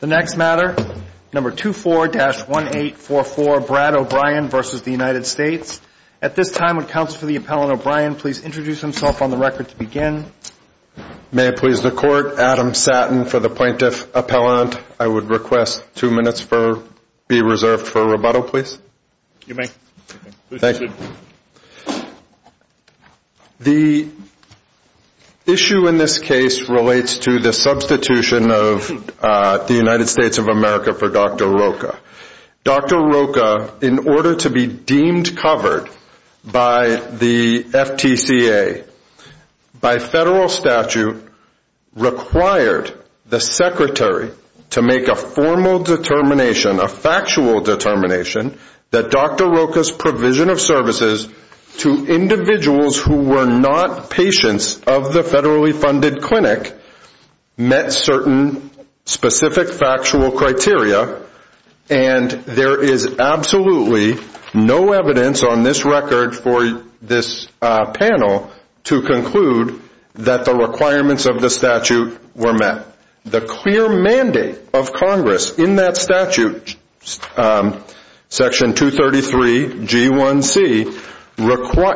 The next matter, number 24-1844, Brad O'Brien v. United States. At this time, would Counsel for the Appellant O'Brien please introduce himself on the record to begin. May it please the Court, Adam Satin for the Plaintiff Appellant. I would request two minutes be reserved for rebuttal, please. You may. Thank you. The issue in this case relates to the substitution of the United States of America for Dr. Rocha. Dr. Rocha, in order to be deemed covered by the FTCA, by federal statute, required the Secretary to make a formal determination, a factual determination, that Dr. Rocha's provision of services to individuals who were not patients of the federally funded clinic met certain specific factual criteria. And there is absolutely no evidence on this record for this panel to conclude that the requirements of the statute were met. The clear mandate of Congress in that statute, Section 233G1C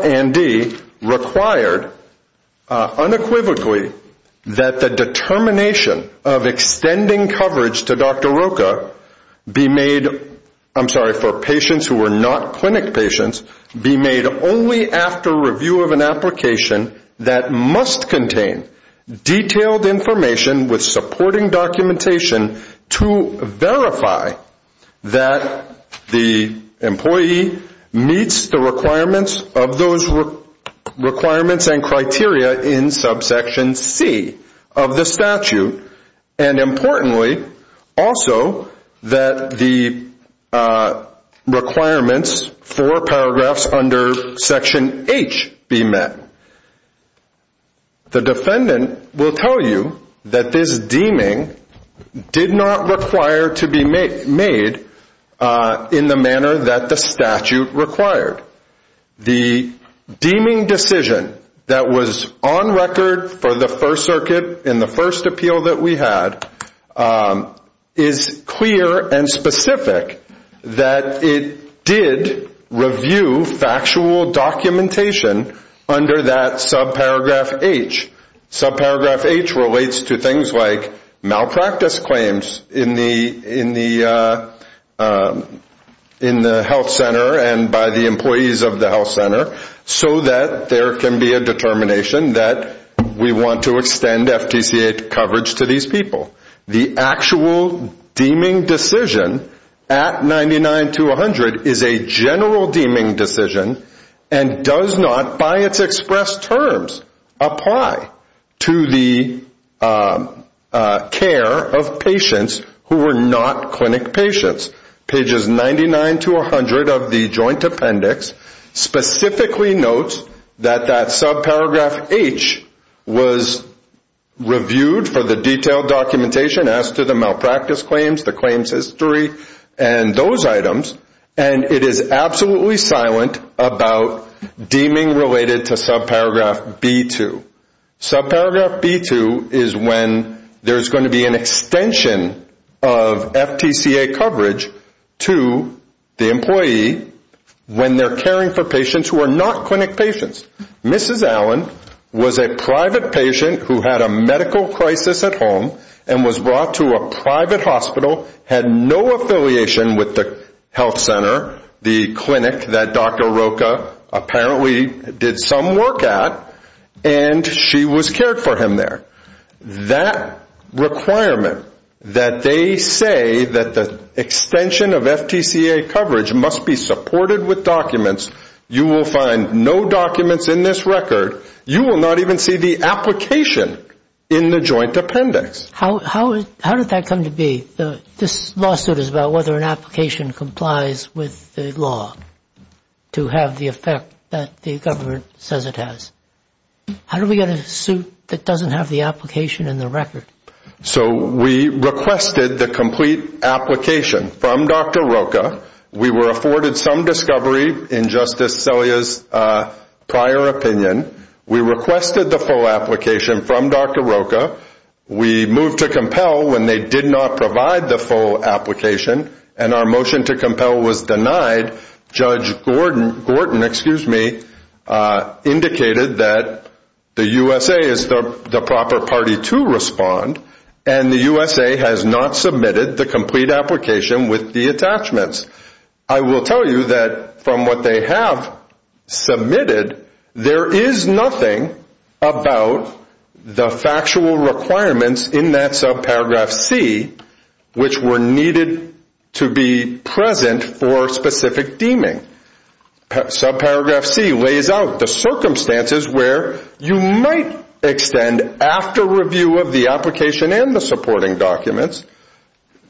and D, required unequivocally that the determination of extending coverage to Dr. Rocha be made, I'm sorry, for patients who were not clinic patients, be made only after review of an application that must contain detailed information with supporting documentation to verify that the employee meets the requirements of those requirements and criteria in subsection C of the statute. And importantly, also, that the requirements for paragraphs under Section H be met. The defendant will tell you that this deeming did not require to be made in the manner that the statute required. The deeming decision that was on record for the First Circuit in the first appeal that we had is clear and specific that it did review factual documentation under that subparagraph H. Subparagraph H relates to things like malpractice claims in the health center and by the employees of the health center so that there can be a determination that we want to extend FTCA coverage to these people. The actual deeming decision at 99-100 is a general deeming decision and does not, by its expressed terms, apply to the care of patients who were not clinic patients. Pages 99-100 of the Joint Appendix specifically notes that that subparagraph H was reviewed for the detailed documentation as to the malpractice claims, the claims history and those items and it is absolutely silent about deeming related to subparagraph B2. Subparagraph B2 is when there's going to be an extension of FTCA coverage to the employee when they're caring for patients who are not clinic patients. Mrs. Allen was a private patient who had a medical crisis at home and was brought to a private hospital, had no affiliation with the health center, the clinic that Dr. Rocha apparently did some work at and she was cared for him there. That requirement that they say that the extension of FTCA coverage must be supported with documents, you will find no documents in this record, you will not even see the application in the Joint Appendix. How did that come to be? This lawsuit is about whether an application complies with the law to have the effect that the government says it has. How do we get a suit that doesn't have the application in the record? So we requested the complete application from Dr. Rocha, we were afforded some discovery in Justice Scalia's prior opinion, we requested the full application from Dr. Rocha, we moved to compel when they did not provide the full application and our motion to compel was denied. Judge Gorton indicated that the USA is the proper party to respond and the USA has not submitted the complete application with the attachments. I will tell you that from what they have submitted, there is nothing about the factual requirements in that subparagraph C which were needed to be present for specific deeming. Subparagraph C lays out the circumstances where you might extend after review of the application and the supporting documents,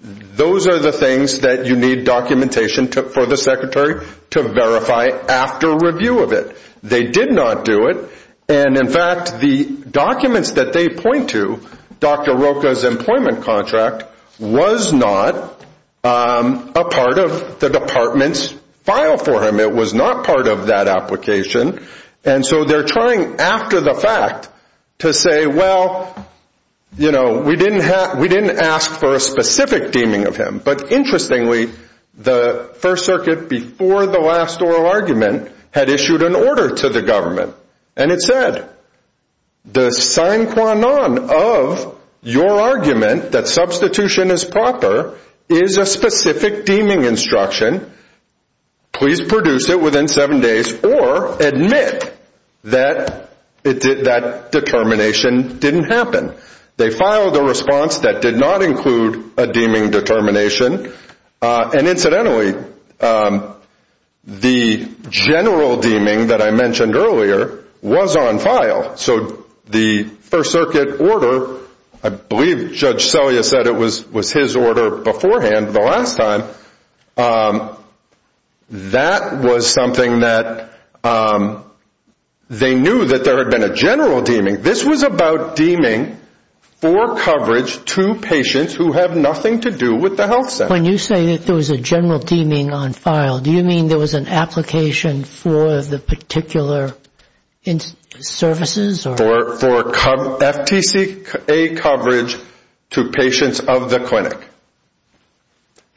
those are the things that you need documentation for the secretary to verify after review of it. They did not do it and in fact the documents that they point to, Dr. Rocha's employment contract was not a part of the department's file for him, it was not part of that application and so they are trying after the fact to say, well, you know, we didn't ask for a specific deeming of him but interestingly the first circuit before the last oral argument had issued an order to the government and it said, the sine qua non of your argument that substitution is proper is a specific deeming instruction, please produce it within seven days or admit that determination didn't happen. They filed a response that did not include a deeming determination and incidentally the general deeming that I mentioned earlier was on file so the first circuit order, I believe Judge Selya said it was his order beforehand the last time, that was something that they knew that there had been a general deeming. This was about deeming for coverage to patients who have nothing to do with the health center. When you say that there was a general deeming on file, do you mean there was an application for the particular services? For FTCA coverage to patients of the clinic.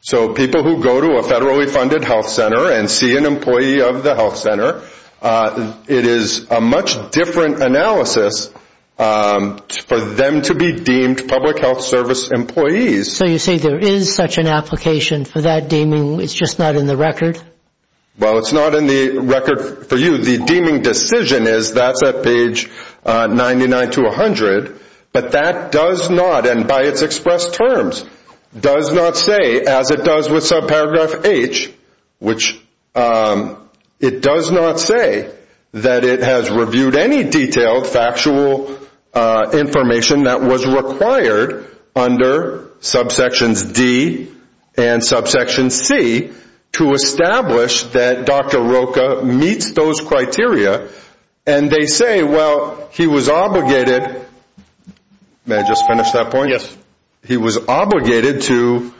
So people who go to a federally funded health center and see an employee of the health center, it is a much different analysis for them to be deemed public health service employees. So you say there is such an application for that deeming, it's just not in the record? Well, it's not in the record for you. The deeming decision is that's at page 99 to 100, but that does not, and by its expressed terms does not say as it does with subparagraph H, which it does not say that it has reviewed any detailed factual information that was required under subsections D and subsection C to establish that Dr. Rocha meets those criteria. And they say, well, he was obligated, may I just finish that point? Yes. He was obligated to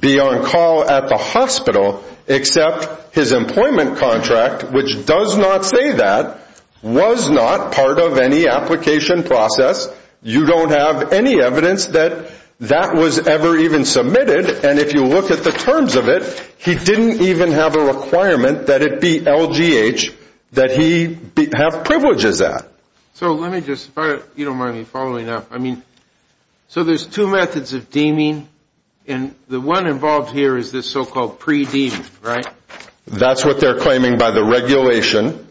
be on call at the hospital except his employment contract, which does not say that, was not part of any application process. You don't have any evidence that that was ever even submitted. And if you look at the terms of it, he didn't even have a requirement that it be LGH that he have privileges at. So let me just, if you don't mind me following up, I mean, so there's two methods of deeming, and the one involved here is this so-called pre-deeming, right? That's what they're claiming by the regulation.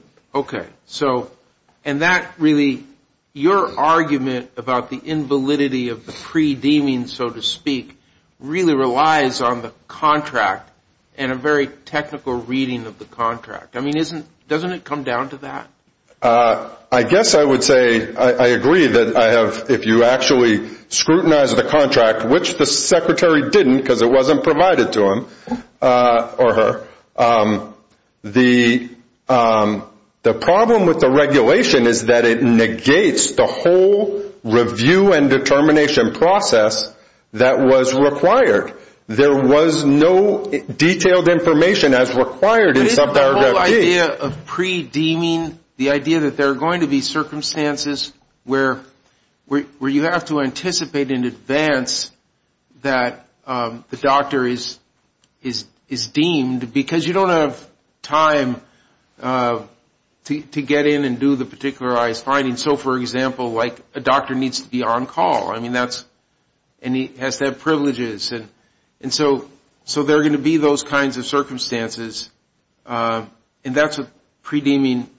So, and that really, your argument about the invalidity of the pre-deeming, so to speak, really relies on the contract and a very technical reading of the contract. I mean, doesn't it come down to that? I guess I would say I agree that I have, if you actually scrutinize the contract, which the secretary didn't because it wasn't provided to him or her, the problem with the regulation is that it negates the whole review and determination process that was required. There was no detailed information as required in subparagraph D. The idea of pre-deeming, the idea that there are going to be circumstances where you have to anticipate in advance that the doctor is deemed because you don't have time to get in and do the particularized finding. So, for example, like a doctor needs to be on call. I mean, that's, and he has to have privileges. And so there are going to be those kinds of circumstances, and that's what pre-deeming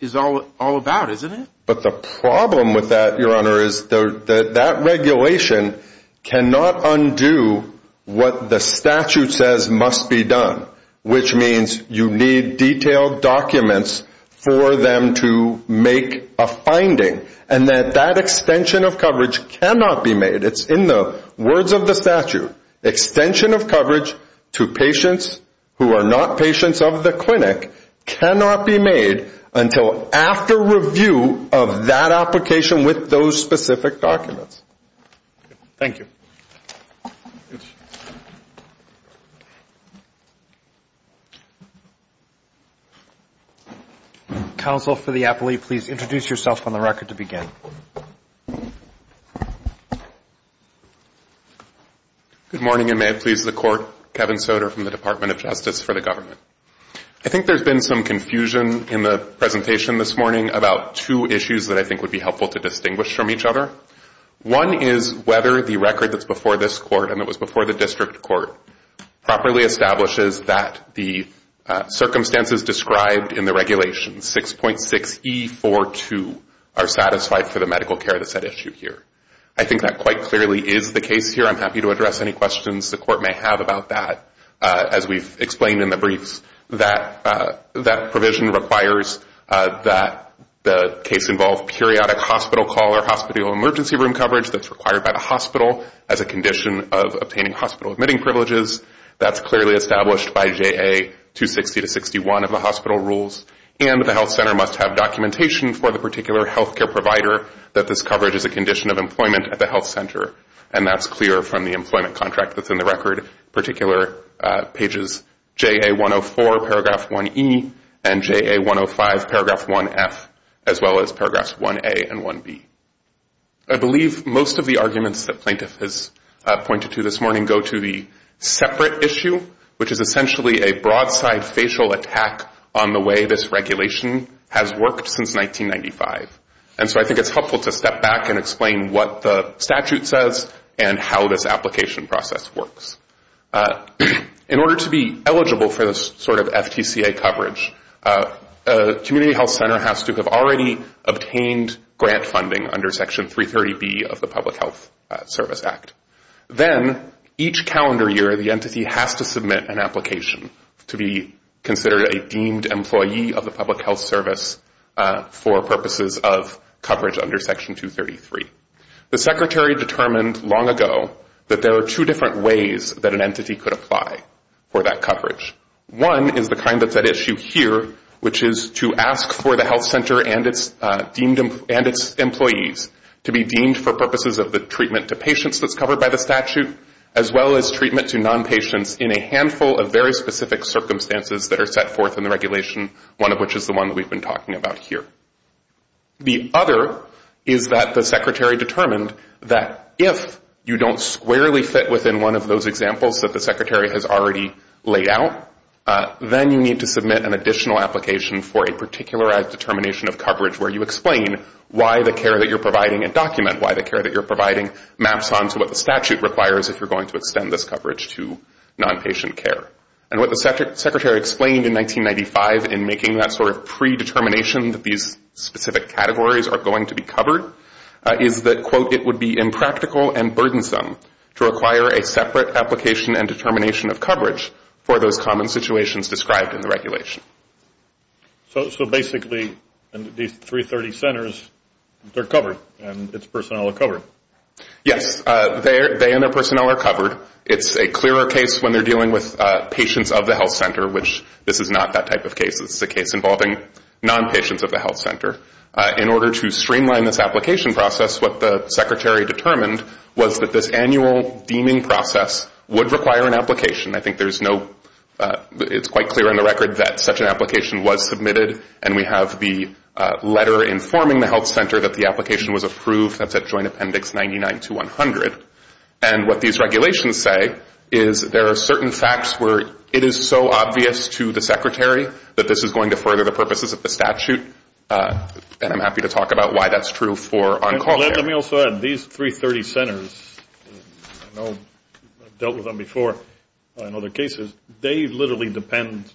is all about, isn't it? But the problem with that, your honor, is that regulation cannot undo what the statute says must be done, which means you need detailed documents for them to make a finding. And that that extension of coverage cannot be made. It's in the words of the statute, extension of coverage to patients who are not patients of the clinic cannot be made until after review of that application with those specific documents. Thank you. Counsel, for the appellee, please introduce yourself on the record to begin. Good morning, and may it please the Court. Kevin Soder from the Department of Justice for the Government. I think there's been some confusion in the presentation this morning about two issues that I think would be helpful to distinguish from each other. One is whether the record that's before this Court and that was before the district court properly establishes that the circumstances described in the regulation, 6.6E42, are satisfied for the medical care that's at issue here. I think that quite clearly is the case here. I'm happy to address any questions the Court may have about that, as we've explained in the briefs, that that provision requires that the case involve periodic hospital call or hospital emergency room coverage that's required by the hospital as a condition of obtaining hospital admitting privileges. That's clearly established by JA 260 to 61 of the hospital rules. And the health center must have documentation for the particular health care provider that this coverage is a condition of employment at the health center. And that's clear from the employment contract that's in the record, in particular pages JA 104, paragraph 1E, and JA 105, paragraph 1F, as well as paragraphs 1A and 1B. I believe most of the arguments that plaintiff has pointed to this morning go to the separate issue, which is essentially a broadside facial attack on the way this regulation has worked since 1995. And so I think it's helpful to step back and explain what the statute says and how this application process works. In order to be eligible for this sort of FTCA coverage, a community health center has to have already obtained grant funding under Section 330B of the Public Health Service Act. Then, each calendar year, the entity has to submit an application to be considered a deemed employee of the Public Health Service for purposes of coverage under Section 233. The Secretary determined long ago that there are two different ways that an entity could apply for that coverage. One is the kind that's at issue here, which is to ask for the health center and its employees to be deemed for purposes of the treatment to patients that's covered by the statute, as well as treatment to non-patients in a handful of very specific circumstances that are set forth in the regulation, one of which is the one that we've been talking about here. The other is that the Secretary determined that if you don't squarely fit within one of those examples that the Secretary has already laid out, then you need to submit an additional application for a particularized determination of coverage where you explain why the care that you're providing and document why the care that you're providing maps onto what the statute requires if you're going to extend this coverage to non-patient care. And what the Secretary explained in 1995 in making that sort of predetermination that these specific categories are going to be covered is that, quote, it would be impractical and burdensome to require a separate application and determination of coverage for those common situations described in the regulation. So basically these 330 centers, they're covered and its personnel are covered? Yes. They and their personnel are covered. It's a clearer case when they're dealing with patients of the health center, which this is not that type of case. This is a case involving non-patients of the health center. In order to streamline this application process, what the Secretary determined was that this annual deeming process would require an application. I think there's no – it's quite clear in the record that such an application was submitted, and we have the letter informing the health center that the application was approved. That's at Joint Appendix 99 to 100. And what these regulations say is there are certain facts where it is so obvious to the Secretary that this is going to further the purposes of the statute, and I'm happy to talk about why that's true for uncalled care. Let me also add, these 330 centers, I've dealt with them before in other cases, they literally depend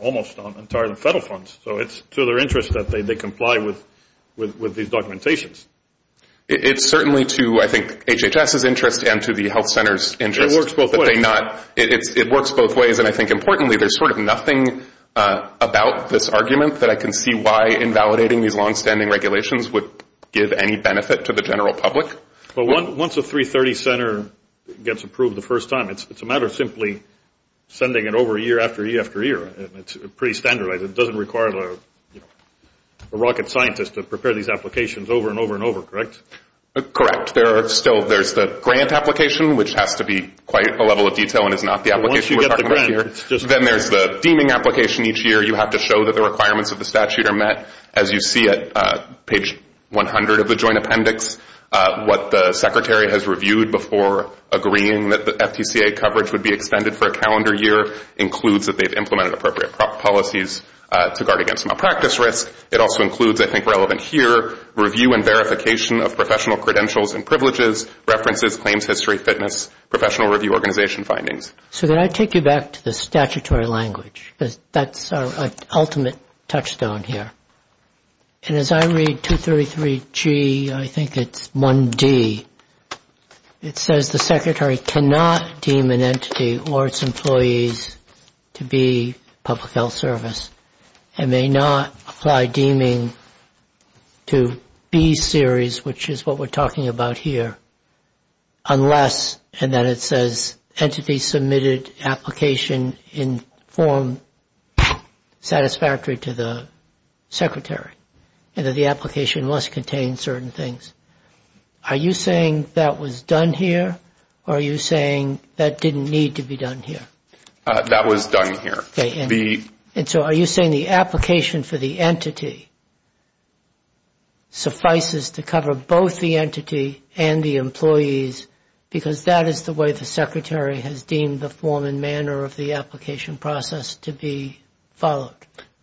almost entirely on federal funds. So it's to their interest that they comply with these documentations. It's certainly to, I think, HHS's interest and to the health center's interest. It works both ways. It works both ways, and I think, importantly, there's sort of nothing about this argument that I can see why invalidating these longstanding regulations would give any benefit to the general public. But once a 330 center gets approved the first time, it's a matter of simply sending it over year after year after year. It's pretty standardized. It doesn't require a rocket scientist to prepare these applications over and over and over, correct? Correct. There's the grant application, which has to be quite a level of detail and is not the application we're talking about here. Then there's the deeming application each year. You have to show that the requirements of the statute are met. As you see at page 100 of the joint appendix, what the Secretary has reviewed before agreeing that the FTCA coverage would be extended for a calendar year includes that they've implemented appropriate policies to guard against malpractice risk. It also includes, I think, relevant here, review and verification of professional credentials and privileges, references, claims history, fitness, professional review organization findings. So then I take you back to the statutory language. That's our ultimate touchstone here. And as I read 233G, I think it's 1D. It says the Secretary cannot deem an entity or its employees to be public health service and may not apply deeming to B series, which is what we're talking about here, unless, and then it says, entity submitted application in form satisfactory to the Secretary and that the application must contain certain things. Are you saying that was done here or are you saying that didn't need to be done here? That was done here. Okay. And so are you saying the application for the entity suffices to cover both the entity and the employees because that is the way the Secretary has deemed the form and manner of the application process to be followed?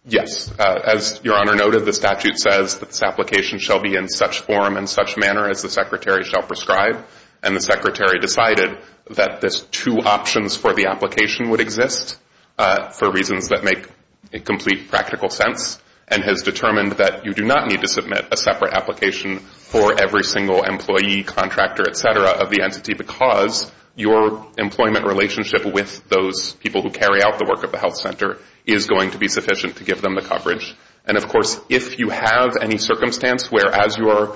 Yes. As Your Honor noted, the statute says that this application shall be in such form and such manner as the Secretary shall prescribe, and the Secretary decided that there's two options for the application would exist for reasons that make a complete practical sense and has determined that you do not need to submit a separate application for every single employee, contractor, et cetera, of the entity because your employment relationship with those people who carry out the work of the health center is going to be sufficient to give them the coverage. And, of course, if you have any circumstance where as you are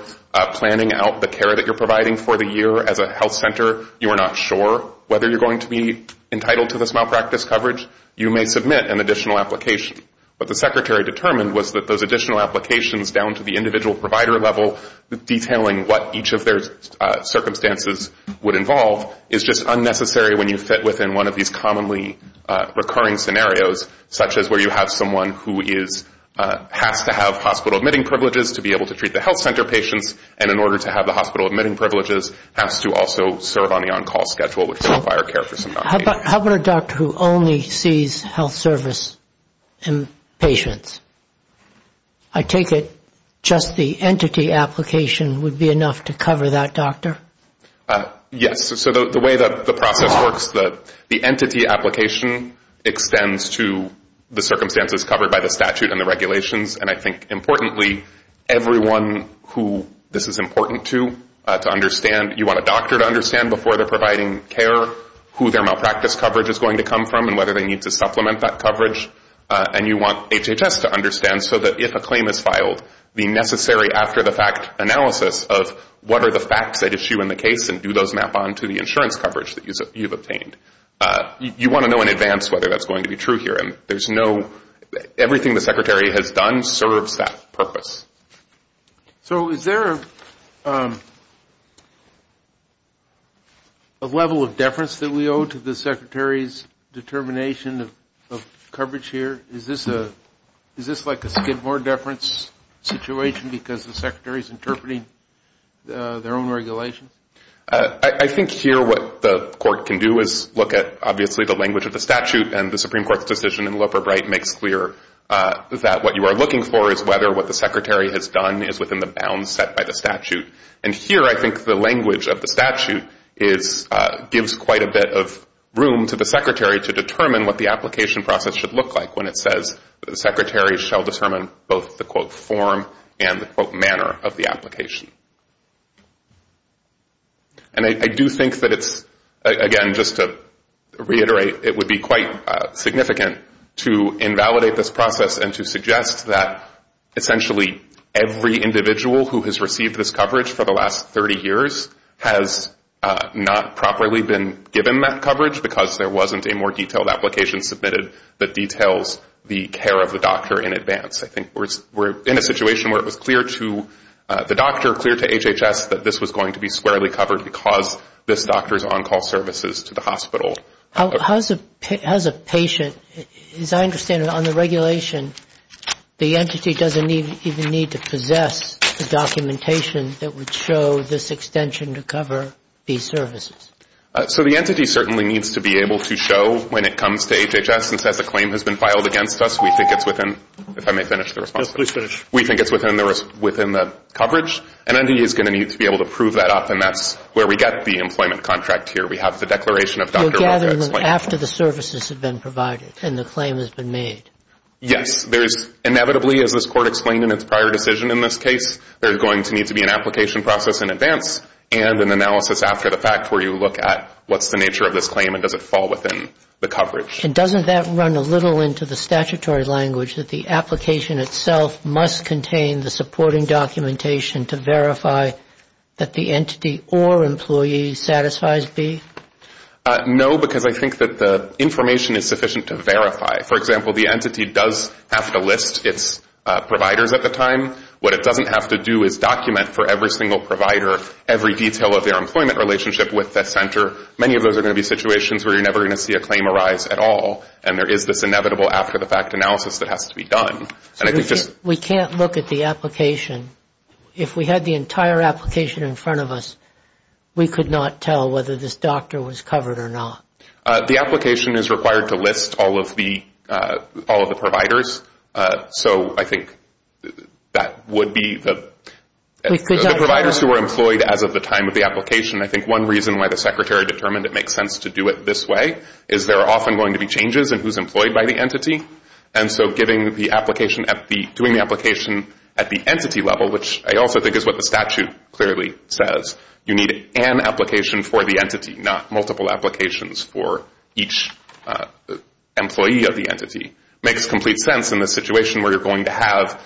planning out the care that you're providing for the year as a health center, you are not sure whether you're going to be entitled to this malpractice coverage, you may submit an additional application. What the Secretary determined was that those additional applications down to the individual provider level detailing what each of their circumstances would involve is just unnecessary when you fit within one of these commonly recurring scenarios such as where you have someone who has to have hospital admitting privileges to be able to treat the health center patients and in order to have the hospital admitting privileges has to also serve on the on-call schedule which is on fire care for some time. How about a doctor who only sees health service patients? I take it just the entity application would be enough to cover that doctor? Yes. So the way that the process works, the entity application extends to the circumstances covered by the statute and the regulations, and I think importantly everyone who this is important to understand. You want a doctor to understand before they're providing care who their malpractice coverage is going to come from and whether they need to supplement that coverage, and you want HHS to understand so that if a claim is filed, the necessary after-the-fact analysis of what are the facts at issue in the case and do those map on to the insurance coverage that you've obtained. You want to know in advance whether that's going to be true here. Everything the secretary has done serves that purpose. So is there a level of deference that we owe to the secretary's determination of coverage here? Is this like a Skidmore deference situation because the secretary is interpreting their own regulations? I think here what the court can do is look at obviously the language of the statute and the Supreme Court's decision in Loper-Bright makes clear that what you are looking for is whether what the secretary has done is within the bounds set by the statute, and here I think the language of the statute gives quite a bit of room to the secretary to determine what the application process should look like when it says that the secretary shall determine both the, quote, form and the, quote, manner of the application. And I do think that it's, again, just to reiterate, it would be quite significant to invalidate this process and to suggest that essentially every individual who has received this coverage for the last 30 years has not properly been given that coverage because there wasn't a more detailed application submitted that details the care of the doctor in advance. I think we're in a situation where it was clear to the doctor, clear to HHS, that this was going to be squarely covered because this doctor's on-call services to the hospital. How does a patient, as I understand it, on the regulation, the entity doesn't even need to possess the documentation that would show this extension to cover these services? So the entity certainly needs to be able to show when it comes to HHS and says the claim has been filed against us. We think it's within, if I may finish the response. Yes, please finish. We think it's within the coverage. An entity is going to need to be able to prove that up and that's where we get the employment contract here. We have the declaration of Dr. Wilcox's claim. You're gathering them after the services have been provided and the claim has been made. Yes. There's inevitably, as this Court explained in its prior decision in this case, there's going to need to be an application process in advance and an analysis after the fact where you look at what's the nature of this claim and does it fall within the coverage. And doesn't that run a little into the statutory language that the application itself must contain the supporting documentation to verify that the entity or employee satisfies B? No, because I think that the information is sufficient to verify. For example, the entity does have to list its providers at the time. What it doesn't have to do is document for every single provider every detail of their employment relationship with the center. Many of those are going to be situations where you're never going to see a claim arise at all and there is this inevitable after-the-fact analysis that has to be done. We can't look at the application. If we had the entire application in front of us, we could not tell whether this doctor was covered or not. The application is required to list all of the providers, so I think that would be the providers who are employed as of the time of the application. I think one reason why the secretary determined it makes sense to do it this way is there are often going to be changes in who's employed by the entity. And so doing the application at the entity level, which I also think is what the statute clearly says, you need an application for the entity, not multiple applications for each employee of the entity. It makes complete sense in the situation where you're going to have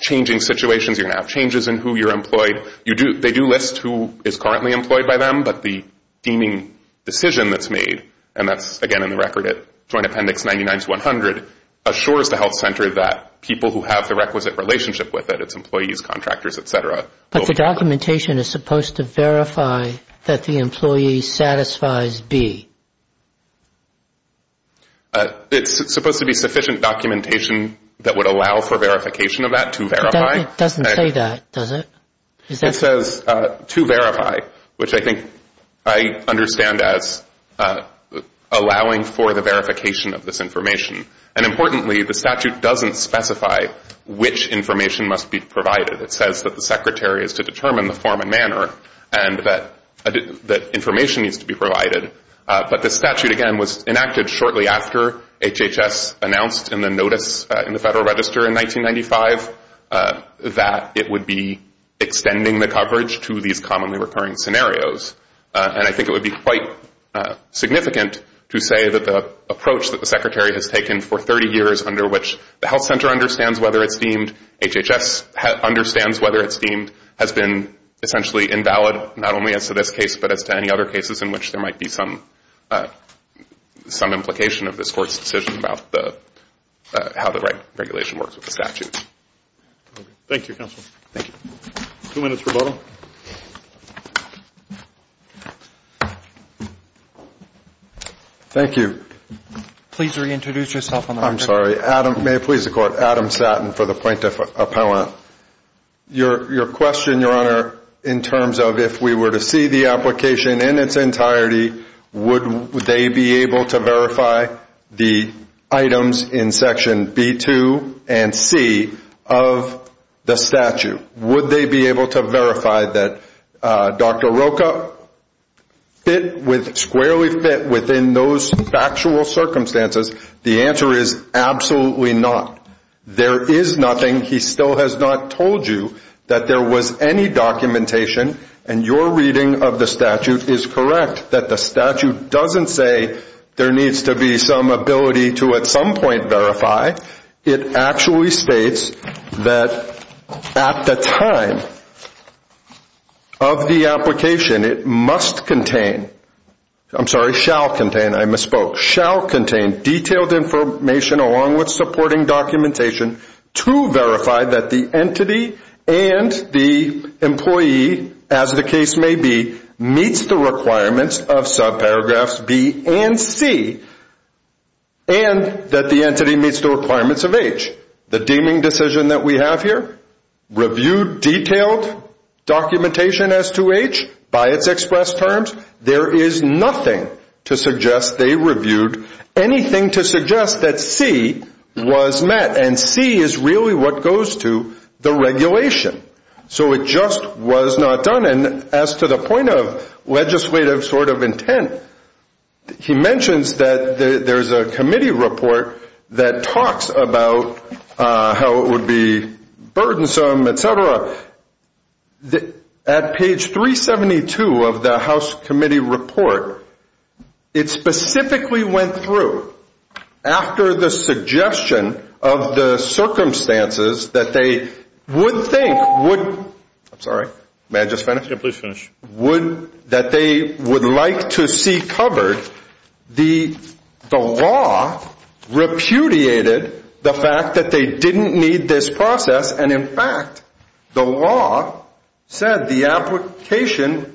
changing situations, you're going to have changes in who you're employed. They do list who is currently employed by them, but the deeming decision that's made, and that's, again, in the record at Joint Appendix 99-100, assures the health center that people who have the requisite relationship with it, it's employees, contractors, et cetera. But the documentation is supposed to verify that the employee satisfies B. It's supposed to be sufficient documentation that would allow for verification of that to verify. It doesn't say that, does it? It says to verify, which I think I understand as allowing for the verification of this information. And importantly, the statute doesn't specify which information must be provided. It says that the secretary is to determine the form and manner and that information needs to be provided. But the statute, again, was enacted shortly after HHS announced in the notice in the Federal Register in 1995 that it would be extending the coverage to these commonly recurring scenarios. And I think it would be quite significant to say that the approach that the secretary has taken for 30 years under which the health center understands whether it's deemed, HHS understands whether it's deemed, has been essentially invalid not only as to this case but as to any other cases in which there might be some implication of this Court's decision about how the regulation works with the statute. Thank you, counsel. Thank you. Two minutes rebuttal. Thank you. Please reintroduce yourself on the record. I'm sorry. May it please the Court. Adam Satin for the plaintiff appellant. Your question, Your Honor, in terms of if we were to see the application in its entirety, would they be able to verify the items in section B2 and C of the statute? Would they be able to verify that Dr. Rocha fit with, squarely fit within those factual circumstances? The answer is absolutely not. There is nothing. He still has not told you that there was any documentation, and your reading of the statute is correct, that the statute doesn't say there needs to be some ability to at some point verify. It actually states that at the time of the application, it must contain. I'm sorry, shall contain. I misspoke. Shall contain detailed information along with supporting documentation to verify that the entity and the employee, as the case may be, meets the requirements of subparagraphs B and C, and that the entity meets the requirements of H. The deeming decision that we have here, review detailed documentation as to H by its express terms. There is nothing to suggest they reviewed anything to suggest that C was met, and C is really what goes to the regulation. So it just was not done. And as to the point of legislative sort of intent, he mentions that there's a committee report that talks about how it would be burdensome, et cetera. At page 372 of the House committee report, it specifically went through, after the suggestion of the circumstances that they would think would, I'm sorry, may I just finish? Yeah, please finish. Would, that they would like to see covered, the law repudiated the fact that they didn't need this process, and in fact, the law said the application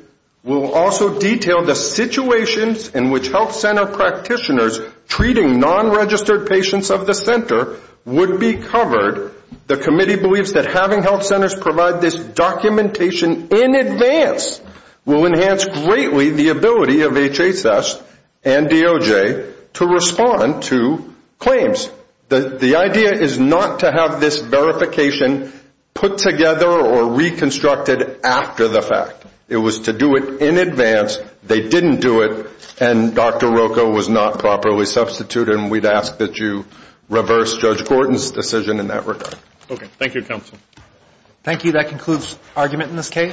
will also detail the situations in which health center practitioners treating non-registered patients of the center would be covered. The committee believes that having health centers provide this documentation in advance will enhance greatly the ability of HHS and DOJ to respond to claims. The idea is not to have this verification put together or reconstructed after the fact. It was to do it in advance. They didn't do it, and Dr. Rocco was not properly substituted, and we'd ask that you reverse Judge Gordon's decision in that regard. Okay. Thank you, counsel. Thank you. That concludes argument in this case.